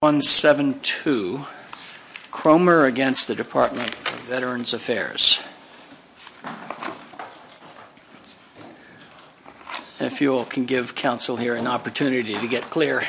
172 Cromer against the Department of Veterans Affairs If you all can give counsel here an opportunity to get clear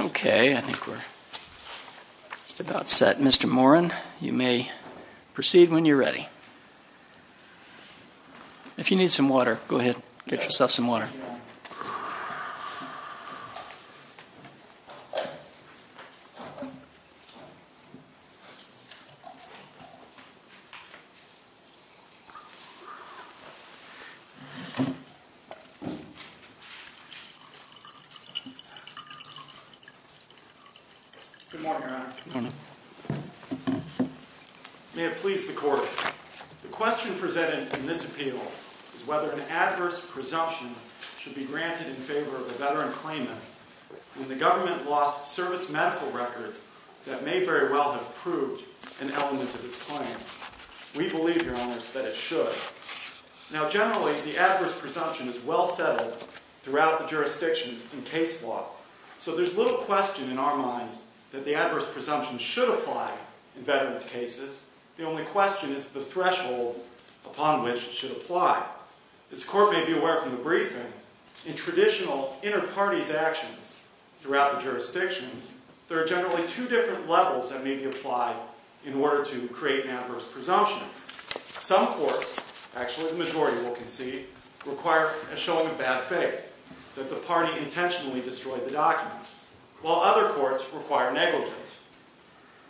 Okay, I think we're just about set. Mr. Morin, you may proceed when you're ready. If you need some water, go ahead. Get yourself some water. Good morning, Your Honor. May it please the Court. The question presented in this appeal is whether an adverse presumption should be granted in favor of a veteran claimant when the government lost service medical records that may very well have proved an element of his claim. We believe, Your Honor, that it should. Now, generally, the adverse presumption is well settled throughout the jurisdictions in case law. So there's little question in our minds that the adverse presumption should apply in veterans' cases. The only question is the threshold upon which it should apply. As the Court may be aware from the briefing, in traditional inter-parties actions throughout the jurisdictions, there are generally two different levels that may be applied in order to create an adverse presumption. Some courts, actually the majority will concede, require a showing of bad faith that the party intentionally destroyed the documents, while other courts require negligence.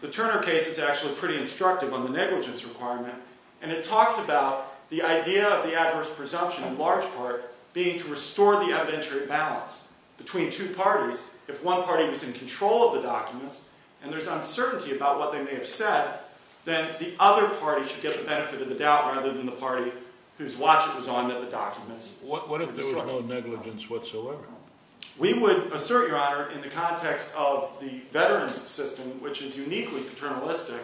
The Turner case is actually pretty instructive on the negligence requirement, and it talks about the idea of the adverse presumption in large part being to restore the evidentiary balance between two parties. If one party was in control of the documents and there's uncertainty about what they may have said, then the other party should get the benefit of the doubt rather than the party whose watch it was on that the documents were destroyed. What if there was no negligence whatsoever? We would assert, Your Honor, in the context of the veterans' system, which is uniquely paternalistic,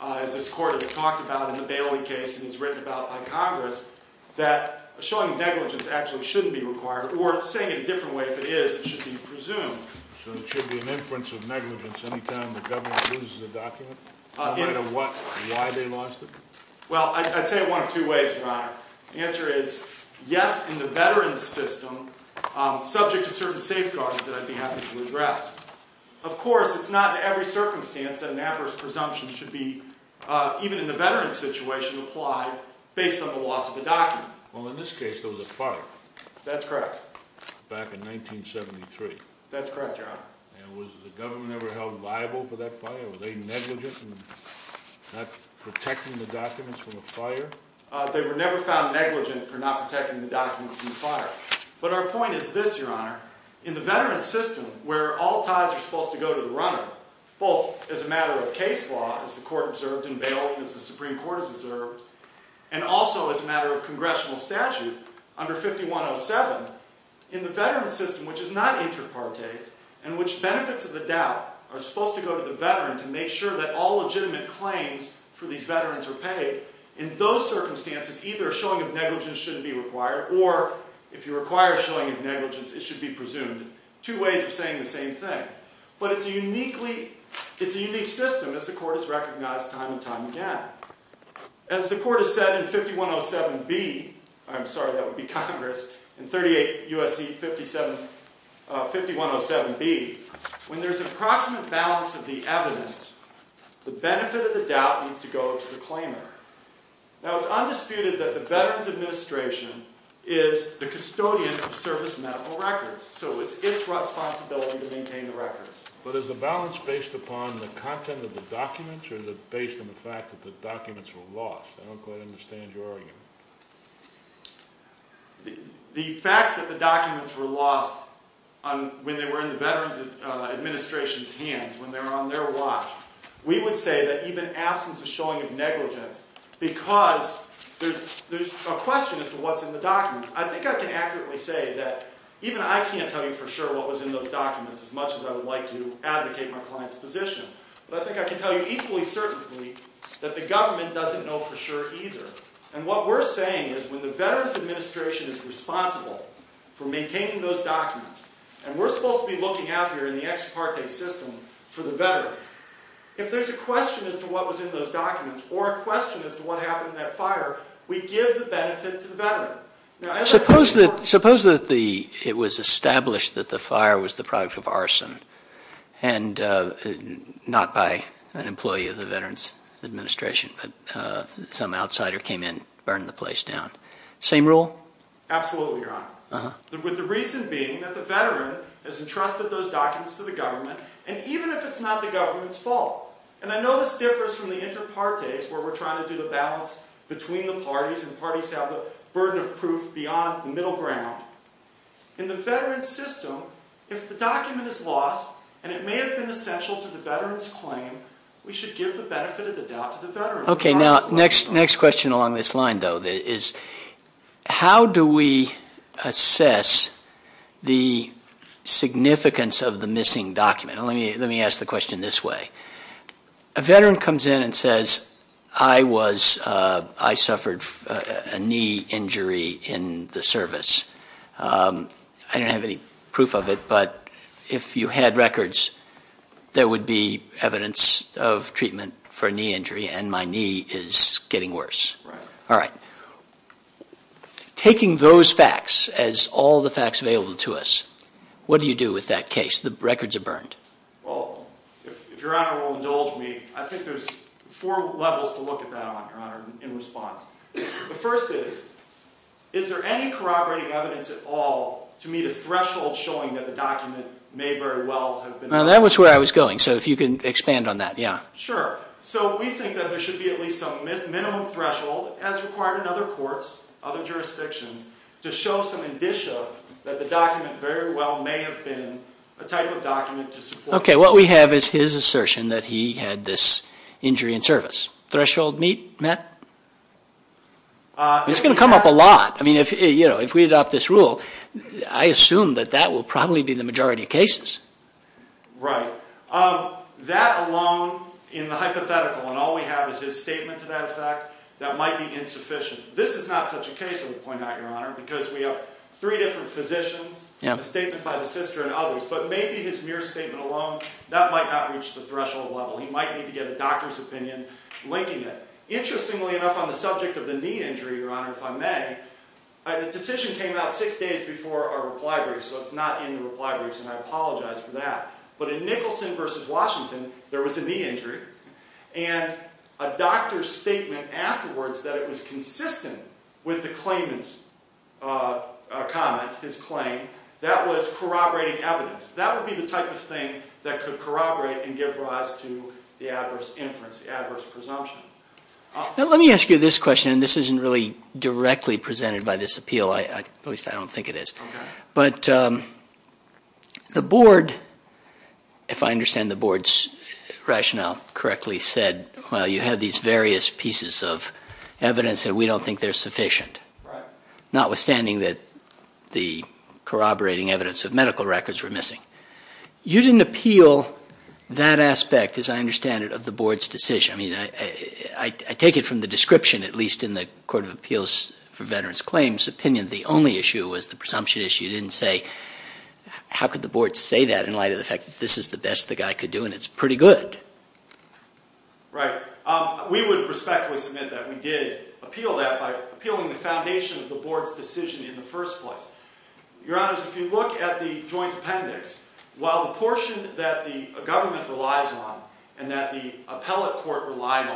as this Court has talked about in the Bailey case and has written about by Congress, that showing negligence actually shouldn't be required. Or saying it a different way, if it is, it should be presumed. So there should be an inference of negligence any time the government loses a document, no matter why they lost it? Well, I'd say it one of two ways, Your Honor. The answer is, yes, in the veterans' system, subject to certain safeguards that I'd be happy to address. Of course, it's not in every circumstance that an adverse presumption should be, even in the veterans' situation, applied based on the loss of the document. Well, in this case, there was a fire. That's correct. Back in 1973. That's correct, Your Honor. And was the government ever held liable for that fire? Were they negligent in not protecting the documents from the fire? They were never found negligent for not protecting the documents from the fire. But our point is this, Your Honor. In the veterans' system, where all ties are supposed to go to the runner, both as a matter of case law, as the Court observed in Bailey and as the Supreme Court has observed, and also as a matter of congressional statute under 5107, in the veterans' system, which is not inter partes, and which benefits of the doubt are supposed to go to the veteran to make sure that all legitimate claims for these veterans are paid, in those circumstances, either a showing of negligence shouldn't be required, or if you require a showing of negligence, it should be presumed. Two ways of saying the same thing. But it's a unique system, as the Court has recognized time and time again. As the Court has said in 5107B, I'm sorry, that would be Congress, in 38 U.S.C. 5107B, when there's an approximate balance of the evidence, the benefit of the doubt needs to go to the claimant. Now, it's undisputed that the Veterans Administration is the custodian of service medical records. So it's its responsibility to maintain the records. But is the balance based upon the content of the documents, or is it based on the fact that the documents were lost? I don't quite understand your argument. The fact that the documents were lost when they were in the Veterans Administration's hands, when they were on their watch, we would say that even absence of showing of negligence, because there's a question as to what's in the documents. I think I can accurately say that even I can't tell you for sure what was in those documents as much as I would like to advocate my client's position. But I think I can tell you equally certainly that the government doesn't know for sure either. And what we're saying is when the Veterans Administration is responsible for maintaining those documents, and we're supposed to be looking out here in the ex parte system for the veteran, if there's a question as to what was in those documents, or a question as to what happened in that fire, we give the benefit to the veteran. Suppose that it was established that the fire was the product of arson, and not by an employee of the Veterans Administration, but some outsider came in and burned the place down. Same rule? Absolutely, Your Honor, with the reason being that the veteran has entrusted those documents to the government, and even if it's not the government's fault, and I know this differs from the inter partes where we're trying to do the balance between the parties, and the parties have the burden of proof beyond the middle ground. In the veteran's system, if the document is lost, and it may have been essential to the veteran's claim, we should give the benefit of the doubt to the veteran. Okay, now, next question along this line, though, is how do we assess the significance of the missing document? Let me ask the question this way. A veteran comes in and says, I suffered a knee injury in the service. I don't have any proof of it, but if you had records, there would be evidence of treatment for a knee injury, and my knee is getting worse. Right. All right. Taking those facts as all the facts available to us, what do you do with that case? The records are burned. Well, if Your Honor will indulge me, I think there's four levels to look at that on, Your Honor, in response. The first is, is there any corroborating evidence at all to meet a threshold showing that the document may very well have been lost? Now, that was where I was going, so if you can expand on that, yeah. Sure. So we think that there should be at least some minimum threshold, as required in other courts, other jurisdictions, to show some indicia that the document very well may have been a type of document to support. Okay. What we have is his assertion that he had this injury in service. Threshold met? It's going to come up a lot. I mean, if we adopt this rule, I assume that that will probably be the majority of cases. Right. That alone, in the hypothetical, and all we have is his statement to that effect, that might be insufficient. This is not such a case, I would point out, Your Honor, because we have three different physicians, the statement by the sister and others, but maybe his mere statement alone, that might not reach the threshold level. He might need to get a doctor's opinion linking it. Interestingly enough, on the subject of the knee injury, Your Honor, if I may, the decision came out six days before our reply brief, so it's not in the reply briefs, and I apologize for that. But in Nicholson v. Washington, there was a knee injury, and a doctor's statement afterwards that it was consistent with the claimant's comment, his claim, that was corroborating evidence. That would be the type of thing that could corroborate and give rise to the adverse inference, the adverse presumption. Now let me ask you this question, and this isn't really directly presented by this appeal, at least I don't think it is. Okay. But the board, if I understand the board's rationale correctly, said, well, you have these various pieces of evidence that we don't think they're sufficient, notwithstanding that the corroborating evidence of medical records were missing. You didn't appeal that aspect, as I understand it, of the board's decision. I mean, I take it from the description, at least in the Court of Appeals for Veterans Claims opinion, the only issue was the presumption issue. You didn't say, how could the board say that in light of the fact that this is the best the guy could do, and it's pretty good. Right. We would respectfully submit that we did appeal that by appealing the foundation of the board's decision in the first place. Your Honors, if you look at the joint appendix, while the portion that the government relies on and that the appellate court relied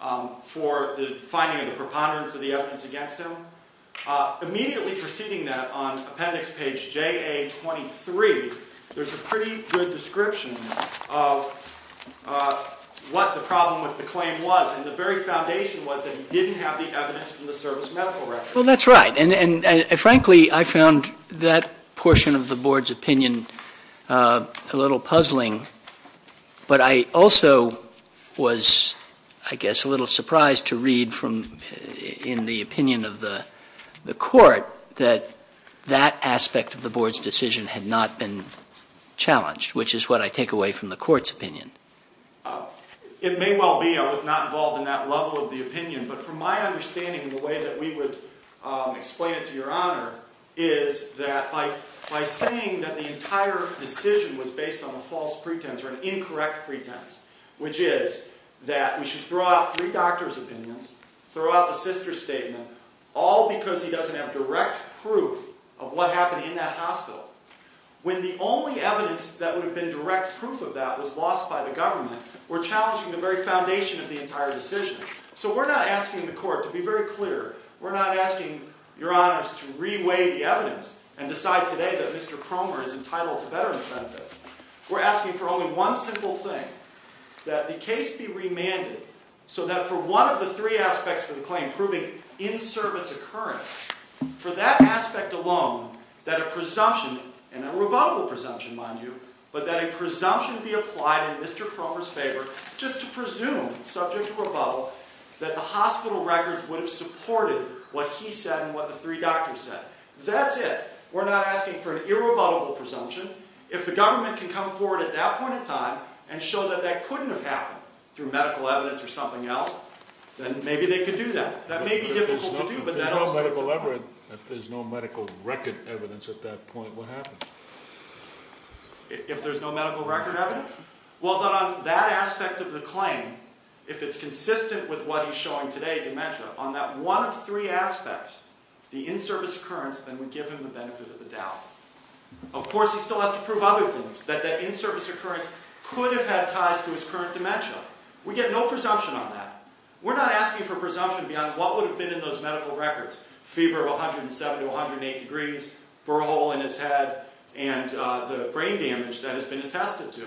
on for the finding of the preponderance of the evidence against him, immediately preceding that on appendix page JA23, there's a pretty good description of what the problem with the claim was. And the very foundation was that he didn't have the evidence from the service medical records. Well, that's right. And frankly, I found that portion of the board's opinion a little puzzling. But I also was, I guess, a little surprised to read in the opinion of the court that that aspect of the board's decision had not been challenged, which is what I take away from the court's opinion. It may well be. I was not involved in that level of the opinion. But from my understanding, the way that we would explain it to Your Honor is that by saying that the entire decision was based on a false pretense or an incorrect pretense, which is that we should throw out three doctors' opinions, throw out the sister's statement, all because he doesn't have direct proof of what happened in that hospital, when the only evidence that would have been direct proof of that was lost by the government, we're challenging the very foundation of the entire decision. So we're not asking the court to be very clear. We're not asking Your Honors to reweigh the evidence and decide today that Mr. Cromer is entitled to veterans' benefits. We're asking for only one simple thing, that the case be remanded, so that for one of the three aspects of the claim proving in-service occurrence, for that aspect alone, that a presumption, and a rebuttable presumption, mind you, but that a presumption be applied in Mr. Cromer's favor just to presume, subject to rebuttal, that the hospital records would have supported what he said and what the three doctors said. That's it. We're not asking for an irrebuttable presumption. If the government can come forward at that point in time and show that that couldn't have happened through medical evidence or something else, then maybe they could do that. That may be difficult to do, but that also works. If there's no medical record evidence at that point, what happens? If there's no medical record evidence? Well, then on that aspect of the claim, if it's consistent with what he's showing today, dementia, on that one of three aspects, the in-service occurrence, then we give him the benefit of the doubt. Of course, he still has to prove other things, that that in-service occurrence could have had ties to his current dementia. We get no presumption on that. We're not asking for presumption beyond what would have been in those medical records, fever of 107 to 108 degrees, burrow hole in his head, and the brain damage that has been attested to.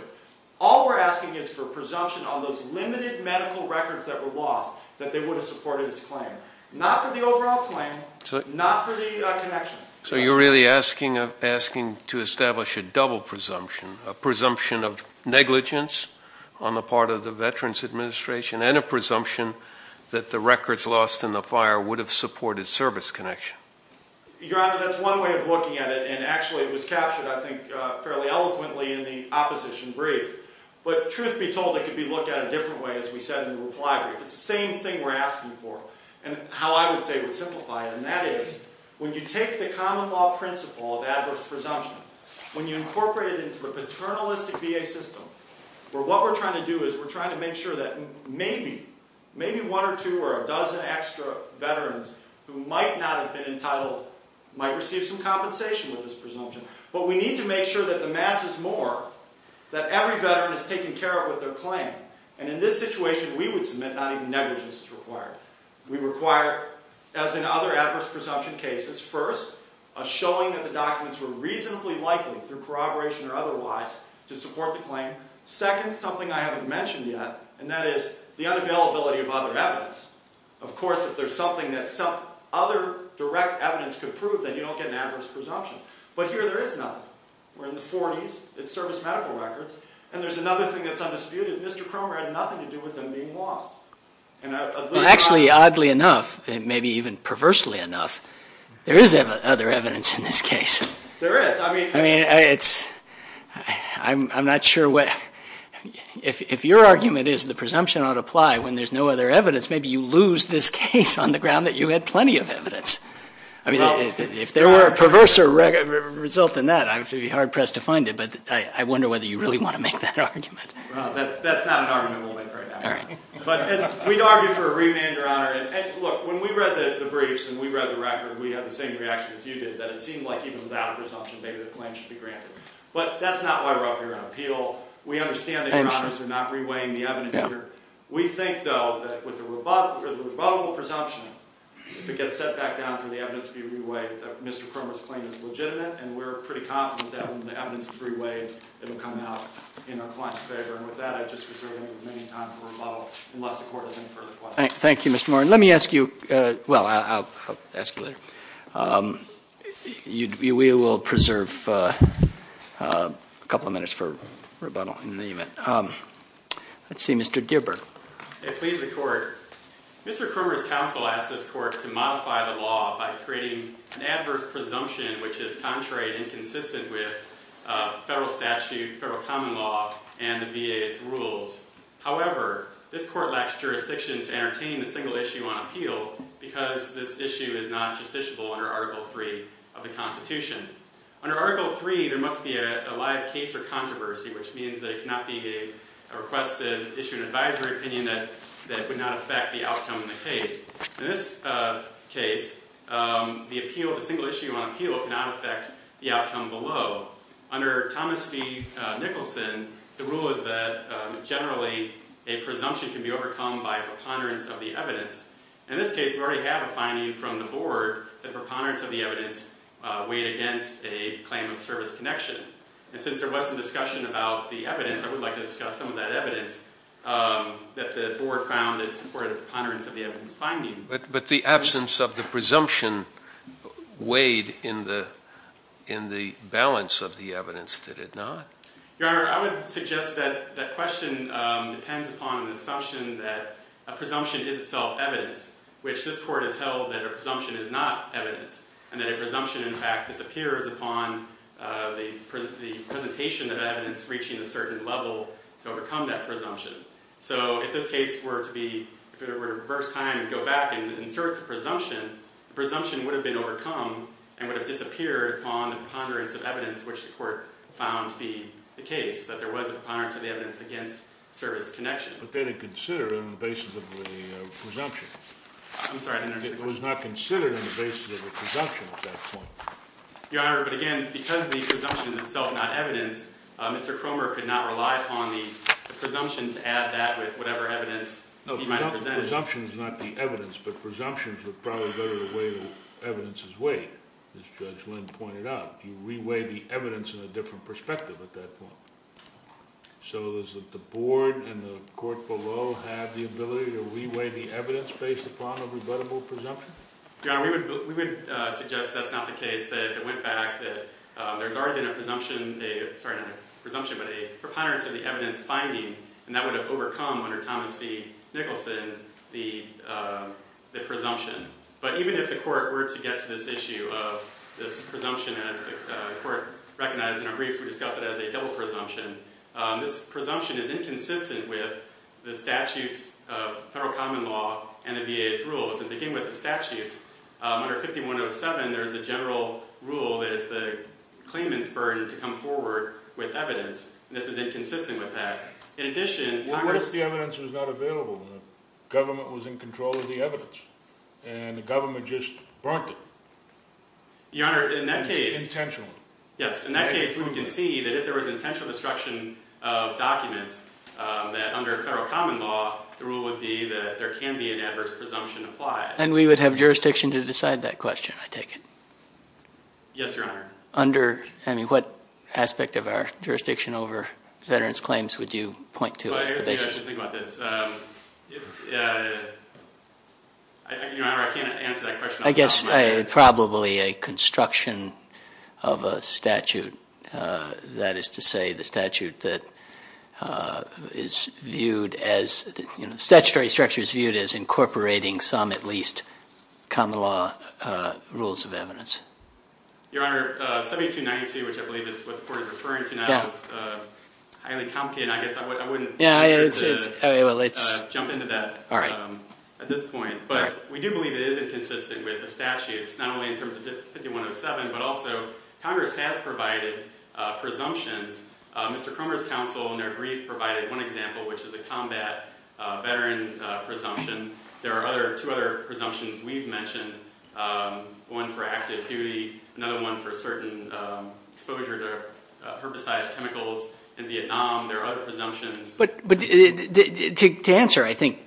All we're asking is for presumption on those limited medical records that were lost that they would have supported his claim. Not for the overall claim, not for the connection. So you're really asking to establish a double presumption, a presumption of negligence on the part of the Veterans Administration and a presumption that the records lost in the fire would have supported service connection. Your Honor, that's one way of looking at it, and actually it was captured, I think, fairly eloquently in the opposition brief. But truth be told, it could be looked at a different way, as we said in the reply brief. It's the same thing we're asking for, and how I would say would simplify it, and that is when you take the common law principle of adverse presumption, when you incorporate it into the paternalistic VA system, what we're trying to do is we're trying to make sure that maybe one or two or a dozen extra Veterans who might not have been entitled might receive some compensation with this presumption. But we need to make sure that the mass is more, that every Veteran is taken care of with their claim. And in this situation, we would submit not even negligence is required. We require, as in other adverse presumption cases, first, a showing that the documents were reasonably likely, through corroboration or otherwise, to support the claim. Second, something I haven't mentioned yet, and that is the unavailability of other evidence. Of course, if there's something that other direct evidence could prove, then you don't get an adverse presumption. But here there is none. We're in the 40s. It's service medical records. And there's another thing that's undisputed. Mr. Cromer had nothing to do with them being lost. Actually, oddly enough, maybe even perversely enough, there is other evidence in this case. There is. I mean, I'm not sure what. If your argument is the presumption ought to apply when there's no other evidence, maybe you lose this case on the ground that you had plenty of evidence. I mean, if there were a perverser result in that, I'd be hard-pressed to find it. But I wonder whether you really want to make that argument. That's not an argument we'll make right now. We'd argue for a remand, Your Honor. Look, when we read the briefs and we read the record, we had the same reaction as you did, that it seemed like even without a presumption, maybe the claim should be granted. But that's not why we're up here on appeal. We understand that Your Honors are not reweighing the evidence here. We think, though, that with a rebuttable presumption, if it gets set back down for the evidence to be reweighed, that Mr. Cromer's claim is legitimate, and we're pretty confident that when the evidence is reweighed, it will come out in our client's favor. And with that, I just reserve the remaining time for rebuttal unless the Court has any further questions. Thank you, Mr. Moran. Let me ask you – well, I'll ask you later. We will preserve a couple of minutes for rebuttal in the event. Let's see, Mr. Gierberg. It pleases the Court. Mr. Cromer's counsel asked this Court to modify the law by creating an adverse presumption which is contrary and inconsistent with federal statute, federal common law, and the VA's rules. However, this Court lacks jurisdiction to entertain a single issue on appeal because this issue is not justiciable under Article III of the Constitution. Under Article III, there must be a live case or controversy, which means there cannot be a requested issue and advisory opinion that would not affect the outcome of the case. In this case, the appeal – the single issue on appeal cannot affect the outcome below. Under Thomas v. Nicholson, the rule is that generally a presumption can be overcome by preponderance of the evidence. In this case, we already have a finding from the Board that preponderance of the evidence weighed against a claim of service connection. And since there was some discussion about the evidence, I would like to discuss some of that evidence that the Board found in support of preponderance of the evidence finding. But the absence of the presumption weighed in the balance of the evidence, did it not? Your Honor, I would suggest that that question depends upon an assumption that a presumption is itself evidence, which this Court has held that a presumption is not evidence, and that a presumption, in fact, disappears upon the presentation of evidence reaching a certain level to overcome that presumption. So if this case were to be – if it were to reverse time and go back and insert the presumption, the presumption would have been overcome and would have disappeared upon the preponderance of evidence, which the Court found to be the case, that there was a preponderance of the evidence against service connection. But that is considered on the basis of the presumption. I'm sorry, I didn't understand. It was not considered on the basis of the presumption at that point. Your Honor, but again, because the presumption is itself not evidence, Mr. Cromer could not rely upon the presumption to add that with whatever evidence he might have presented. No, presumption is not the evidence, but presumptions are probably better to weigh the evidence's weight, as Judge Lynn pointed out. You re-weigh the evidence in a different perspective at that point. So does the Board and the Court below have the ability to re-weigh the evidence based upon a rebuttable presumption? Your Honor, we would suggest that's not the case, that if it went back, that there's already been a presumption – sorry, not a presumption, but a preponderance of the evidence finding, and that would have overcome under Thomas D. Nicholson the presumption. But even if the Court were to get to this issue of this presumption, as the Court recognized in our briefs, we discuss it as a double presumption. This presumption is inconsistent with the statutes of federal common law and the VA's rules. And beginning with the statutes, under 5107, there's the general rule that it's the claimant's burden to come forward with evidence. This is inconsistent with that. In addition – Well, what if the evidence was not available? The government was in control of the evidence, and the government just brought it. Your Honor, in that case – Intentional. Yes, in that case, we can see that if there was intentional destruction of documents, that under federal common law, the rule would be that there can be an adverse presumption applied. And we would have jurisdiction to decide that question, I take it? Yes, Your Honor. Under – I mean, what aspect of our jurisdiction over veterans' claims would you point to as the basis? Well, here's the thing about this. Your Honor, I can't answer that question on the document. I guess probably a construction of a statute. That is to say, the statute that is viewed as – the statutory structure is viewed as incorporating some, at least, common law rules of evidence. Your Honor, 7292, which I believe is what the Court is referring to now, is highly complicated. I guess I wouldn't venture to jump into that at this point. But we do believe it is inconsistent with the statutes, not only in terms of 5107, but also Congress has provided presumptions. Mr. Cromer's counsel in their brief provided one example, which is a combat veteran presumption. There are two other presumptions we've mentioned, one for active duty, another one for certain exposure to herbicides, chemicals in Vietnam. There are other presumptions. But to answer, I think,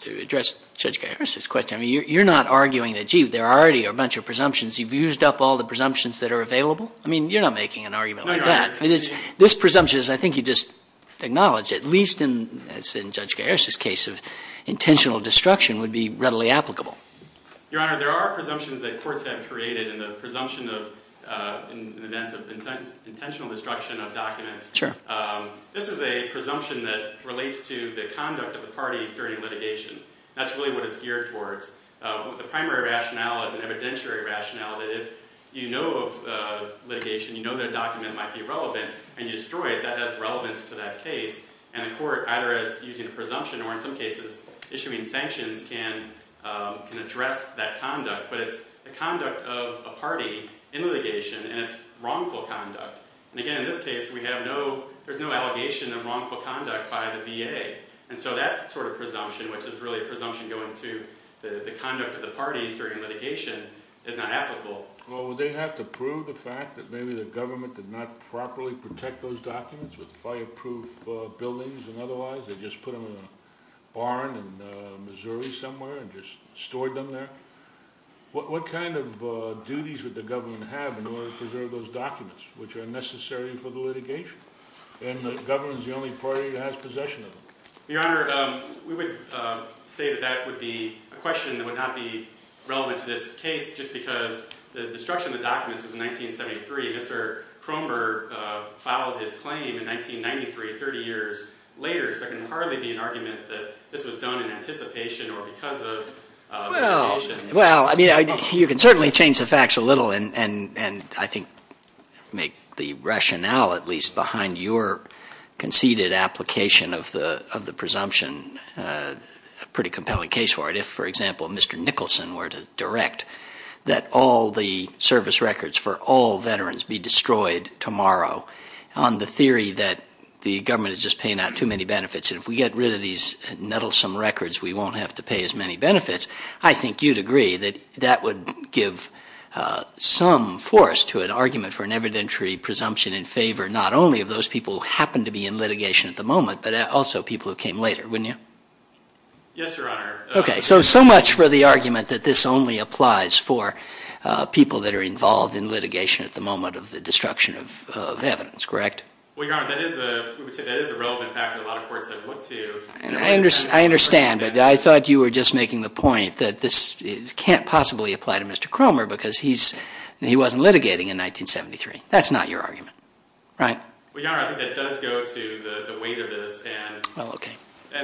to address Judge Garris' question, you're not arguing that, gee, there are already a bunch of presumptions. You've used up all the presumptions that are available? I mean, you're not making an argument like that. No, Your Honor. This presumption, I think you just acknowledged, at least in Judge Garris' case of intentional destruction, would be readily applicable. Your Honor, there are presumptions that courts have created in the presumption of an event of intentional destruction of documents. This is a presumption that relates to the conduct of the parties during litigation. That's really what it's geared towards. The primary rationale is an evidentiary rationale that if you know of litigation, you know that a document might be relevant, and you destroy it, that has relevance to that case. And the court, either using a presumption or, in some cases, issuing sanctions, can address that conduct. But it's the conduct of a party in litigation, and it's wrongful conduct. And again, in this case, we have no – there's no allegation of wrongful conduct by the VA. And so that sort of presumption, which is really a presumption going to the conduct of the parties during litigation, is not applicable. Well, would they have to prove the fact that maybe the government did not properly protect those documents with fireproof buildings and otherwise? They just put them in a barn in Missouri somewhere and just stored them there? What kind of duties would the government have in order to preserve those documents, which are necessary for the litigation? And the government is the only party that has possession of them. Your Honor, we would say that that would be a question that would not be relevant to this case just because the destruction of the documents was in 1973. Mr. Cromer filed his claim in 1993, 30 years later, so there can hardly be an argument that this was done in anticipation or because of litigation. Well, I mean, you can certainly change the facts a little and I think make the rationale at least behind your conceded application of the presumption a pretty compelling case for it. If, for example, Mr. Nicholson were to direct that all the service records for all veterans be destroyed tomorrow on the theory that the government is just paying out too many benefits, and if we get rid of these nettlesome records, we won't have to pay as many benefits, I think you'd agree that that would give some force to an argument for an evidentiary presumption in favor not only of those people who happen to be in litigation at the moment, but also people who came later, wouldn't you? Yes, Your Honor. Okay, so so much for the argument that this only applies for people that are involved in litigation at the moment of the destruction of evidence, correct? Well, Your Honor, that is a relevant fact that a lot of courts have looked to. I understand, but I thought you were just making the point that this can't possibly apply to Mr. Cromer because he wasn't litigating in 1973. That's not your argument, right? Well, Your Honor, I think that does go to the weight of this, and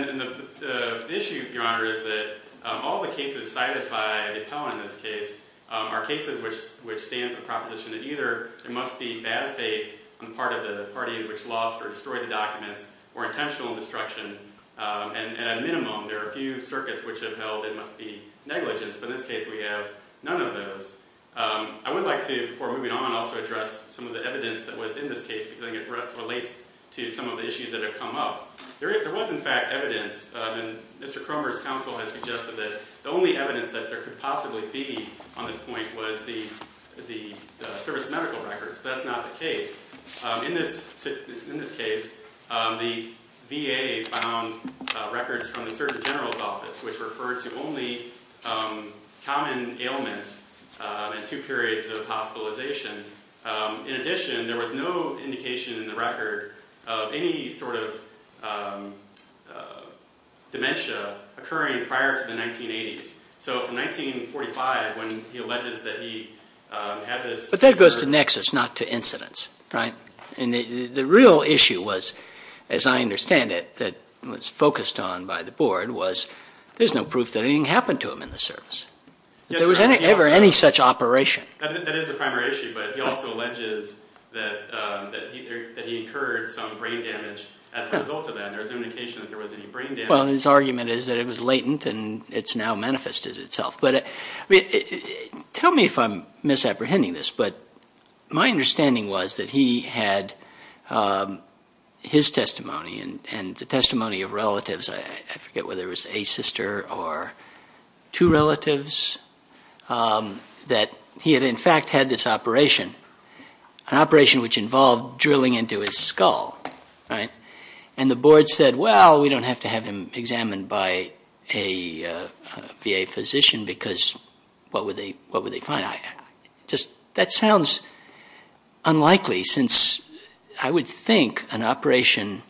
the issue, Your Honor, is that all the cases cited by the appellant in this case are cases which stand for the proposition that either there must be bad faith on the part of the party which lost or destroyed the documents or intentional destruction, and at a minimum, there are a few circuits which have held it must be negligence, but in this case we have none of those. I would like to, before moving on, also address some of the evidence that was in this case because I think it relates to some of the issues that have come up. There was in fact evidence, and Mr. Cromer's counsel has suggested that the only evidence that there could possibly be on this point was the service medical records, but that's not the case. In this case, the VA found records from the Surgeon General's office which referred to only common ailments in two periods of hospitalization. In addition, there was no indication in the record of any sort of dementia occurring prior to the 1980s. So from 1945, when he alleges that he had this... But that goes to nexus, not to incidence, right? And the real issue was, as I understand it, that was focused on by the board was there's no proof that anything happened to him in the service. There was never any such operation. That is the primary issue, but he also alleges that he incurred some brain damage as a result of that. There was no indication that there was any brain damage. Well, his argument is that it was latent and it's now manifested itself. But tell me if I'm misapprehending this, but my understanding was that he had his testimony and the testimony of relatives. I forget whether it was a sister or two relatives, that he had in fact had this operation, an operation which involved drilling into his skull, right? And the board said, well, we don't have to have him examined by a VA physician because what would they find? That sounds unlikely since I would think an operation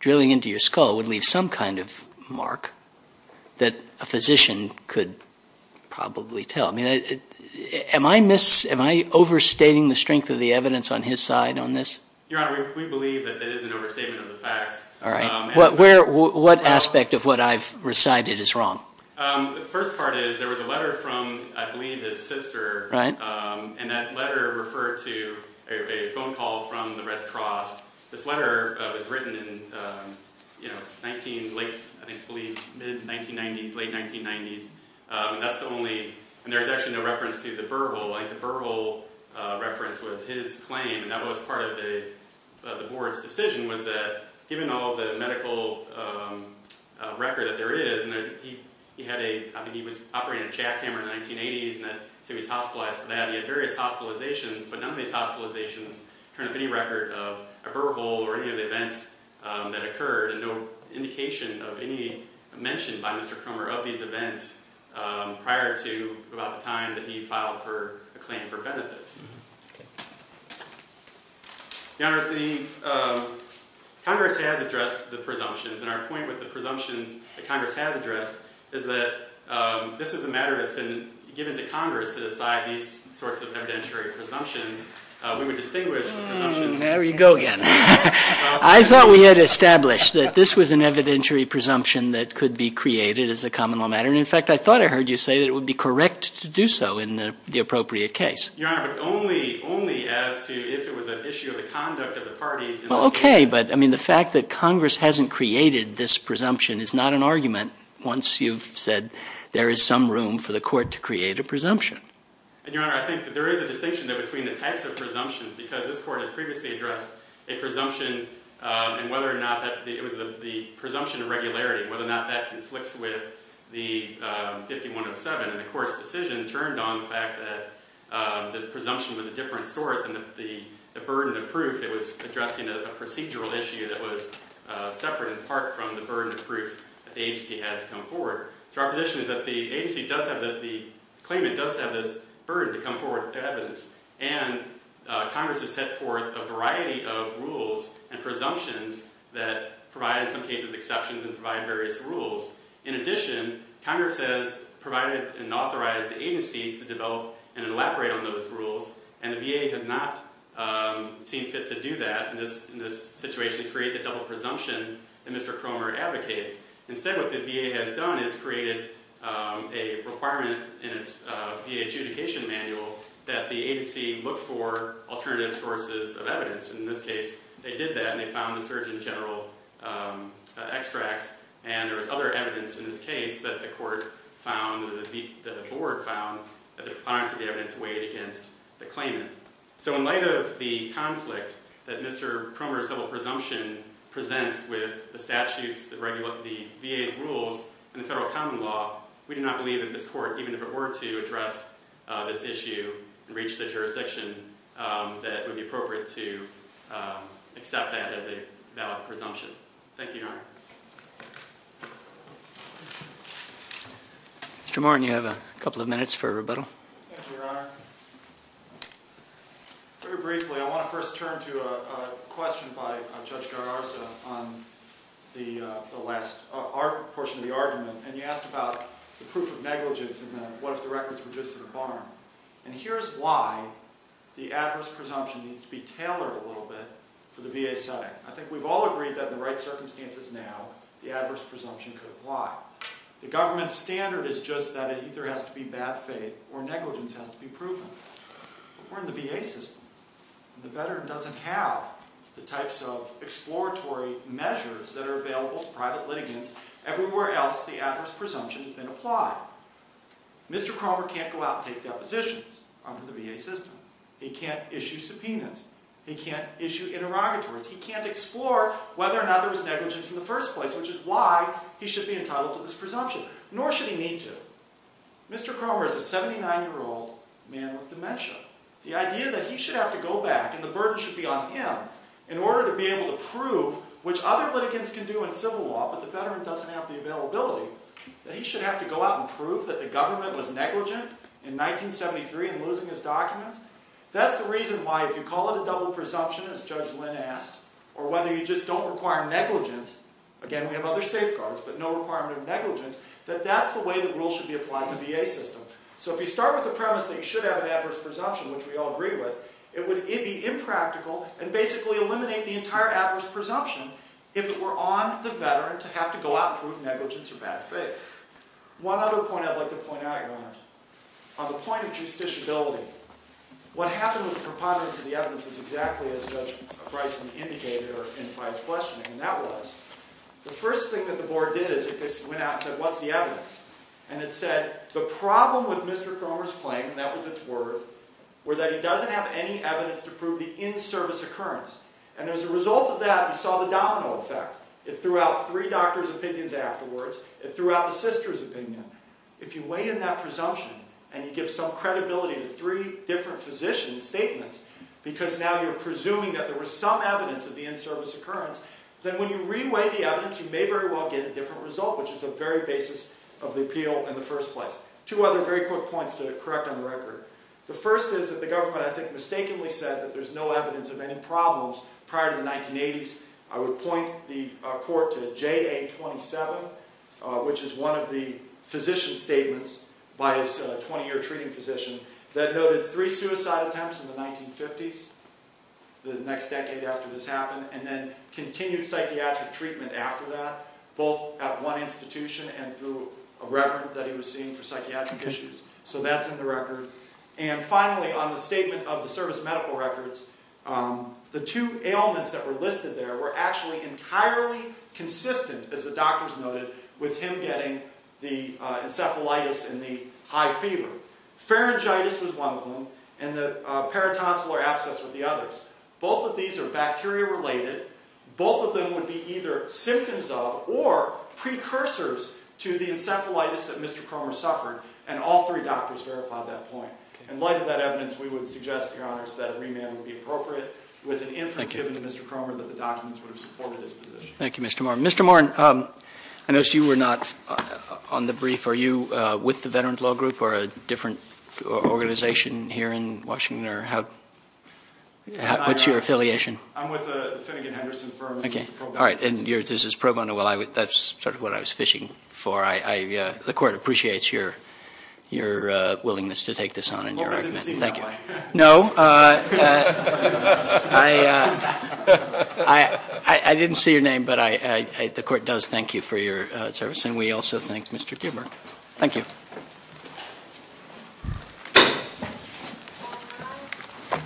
drilling into your skull would leave some kind of mark that a physician could probably tell. Am I overstating the strength of the evidence on his side on this? Your Honor, we believe that it is an overstatement of the facts. All right. What aspect of what I've recited is wrong? The first part is there was a letter from, I believe, his sister, and that letter referred to a phone call from the Red Cross. This letter was written in late 1990s. There's actually no reference to the burgle. The burgle reference was his claim, and that was part of the board's decision, was that given all the medical record that there is, and I think he was operating a jackhammer in the 1980s, so he was hospitalized for that. He had various hospitalizations, but none of these hospitalizations turn up any record of a burgle or any of the events that occurred. There's no indication of any mention by Mr. Cromer of these events prior to about the time that he filed a claim for benefits. Your Honor, Congress has addressed the presumptions, and our point with the presumptions that Congress has addressed is that this is a matter that's been given to Congress to decide these sorts of evidentiary presumptions. I thought we had established that this was an evidentiary presumption that could be created as a common law matter, and in fact I thought I heard you say that it would be correct to do so in the appropriate case. Your Honor, but only as to if it was an issue of the conduct of the parties. Well, okay, but I mean the fact that Congress hasn't created this presumption is not an argument once you've said there is some room for the court to create a presumption. Your Honor, I think that there is a distinction between the types of presumptions, because this court has previously addressed a presumption, and whether or not it was the presumption of regularity, whether or not that conflicts with the 5107, and the court's decision turned on the fact that the presumption was a different sort than the burden of proof. It was addressing a procedural issue that was separate in part from the burden of proof that the agency has to come forward. So our position is that the agency does have, that the claimant does have this burden to come forward with evidence, and Congress has set forth a variety of rules and presumptions that provide in some cases exceptions and provide various rules. In addition, Congress has provided and authorized the agency to develop and elaborate on those rules, and the VA has not seen fit to do that in this situation, create the double presumption that Mr. Cromer advocates. Instead, what the VA has done is created a requirement in its VA adjudication manual that the agency look for alternative sources of evidence. In this case, they did that, and they found the Surgeon General extracts, and there was other evidence in this case that the court found, that the board found, that the proponents of the evidence weighed against the claimant. So in light of the conflict that Mr. Cromer's double presumption presents with the statutes, the VA's rules, and the federal common law, we do not believe that this court, even if it were to address this issue and reach the jurisdiction, that it would be appropriate to accept that as a valid presumption. Thank you, Your Honor. Mr. Martin, you have a couple of minutes for rebuttal. Thank you, Your Honor. Very briefly, I want to first turn to a question by Judge Gararza on the last portion of the argument, and he asked about the proof of negligence and then what if the records were just in the barn. And here's why the adverse presumption needs to be tailored a little bit for the VA setting. I think we've all agreed that in the right circumstances now, the adverse presumption could apply. The government's standard is just that it either has to be bad faith or negligence has to be proven. But we're in the VA system, and the veteran doesn't have the types of exploratory measures that are available to private litigants. Everywhere else, the adverse presumption has been applied. Mr. Cromer can't go out and take depositions under the VA system. He can't issue subpoenas. He can't issue interrogatories. He can't explore whether or not there was negligence in the first place, which is why he should be entitled to this presumption, nor should he need to. Mr. Cromer is a 79-year-old man with dementia. The idea that he should have to go back and the burden should be on him in order to be able to prove, which other litigants can do in civil law but the veteran doesn't have the availability, that he should have to go out and prove that the government was negligent in 1973 in losing his documents, that's the reason why if you call it a double presumption, as Judge Lynn asked, or whether you just don't require negligence, again, we have other safeguards, but no requirement of negligence, that that's the way the rule should be applied in the VA system. So if you start with the premise that you should have an adverse presumption, which we all agree with, it would be impractical and basically eliminate the entire adverse presumption if it were on the veteran to have to go out and prove negligence or bad faith. One other point I'd like to point out, Your Honor, on the point of justiciability, what happened with preponderance of the evidence is exactly as Judge Bryson indicated by his questioning, and that was the first thing that the board did is it went out and said, what's the evidence? And it said the problem with Mr. Cromer's claim, and that was its worth, were that he doesn't have any evidence to prove the in-service occurrence. And as a result of that, we saw the domino effect. It threw out three doctors' opinions afterwards. It threw out the sister's opinion. If you weigh in that presumption and you give some credibility to three different physicians' statements because now you're presuming that there was some evidence of the in-service occurrence, then when you re-weigh the evidence, you may very well get a different result, which is the very basis of the appeal in the first place. Two other very quick points to correct on the record. The first is that the government, I think, mistakenly said that there's no evidence of any problems prior to the 1980s. I would point the court to JA-27, which is one of the physician statements by a 20-year treating physician that noted three suicide attempts in the 1950s, the next decade after this happened, and then continued psychiatric treatment after that, both at one institution and through a reverend that he was seeing for psychiatric issues. So that's in the record. And finally, on the statement of the service medical records, the two ailments that were listed there were actually entirely consistent, as the doctors noted, with him getting the encephalitis and the high fever. Pharyngitis was one of them, and the paratonsal or abscess were the others. Both of these are bacteria-related. Both of them would be either symptoms of or precursors to the encephalitis that Mr. Cromer suffered, and all three doctors verified that point. In light of that evidence, we would suggest, Your Honors, that a remand would be appropriate, with an inference given to Mr. Cromer that the documents would have supported his position. Thank you, Mr. Moore. Mr. Moore, I noticed you were not on the brief. Are you with the Veterans Law Group or a different organization here in Washington? What's your affiliation? I'm with the Finnegan-Henderson firm. All right, and this is pro bono. That's sort of what I was fishing for. The Court appreciates your willingness to take this on in your argument. Well, I didn't see my name. No. I didn't see your name, but the Court does thank you for your service, and we also thank Mr. Gilbert. Thank you.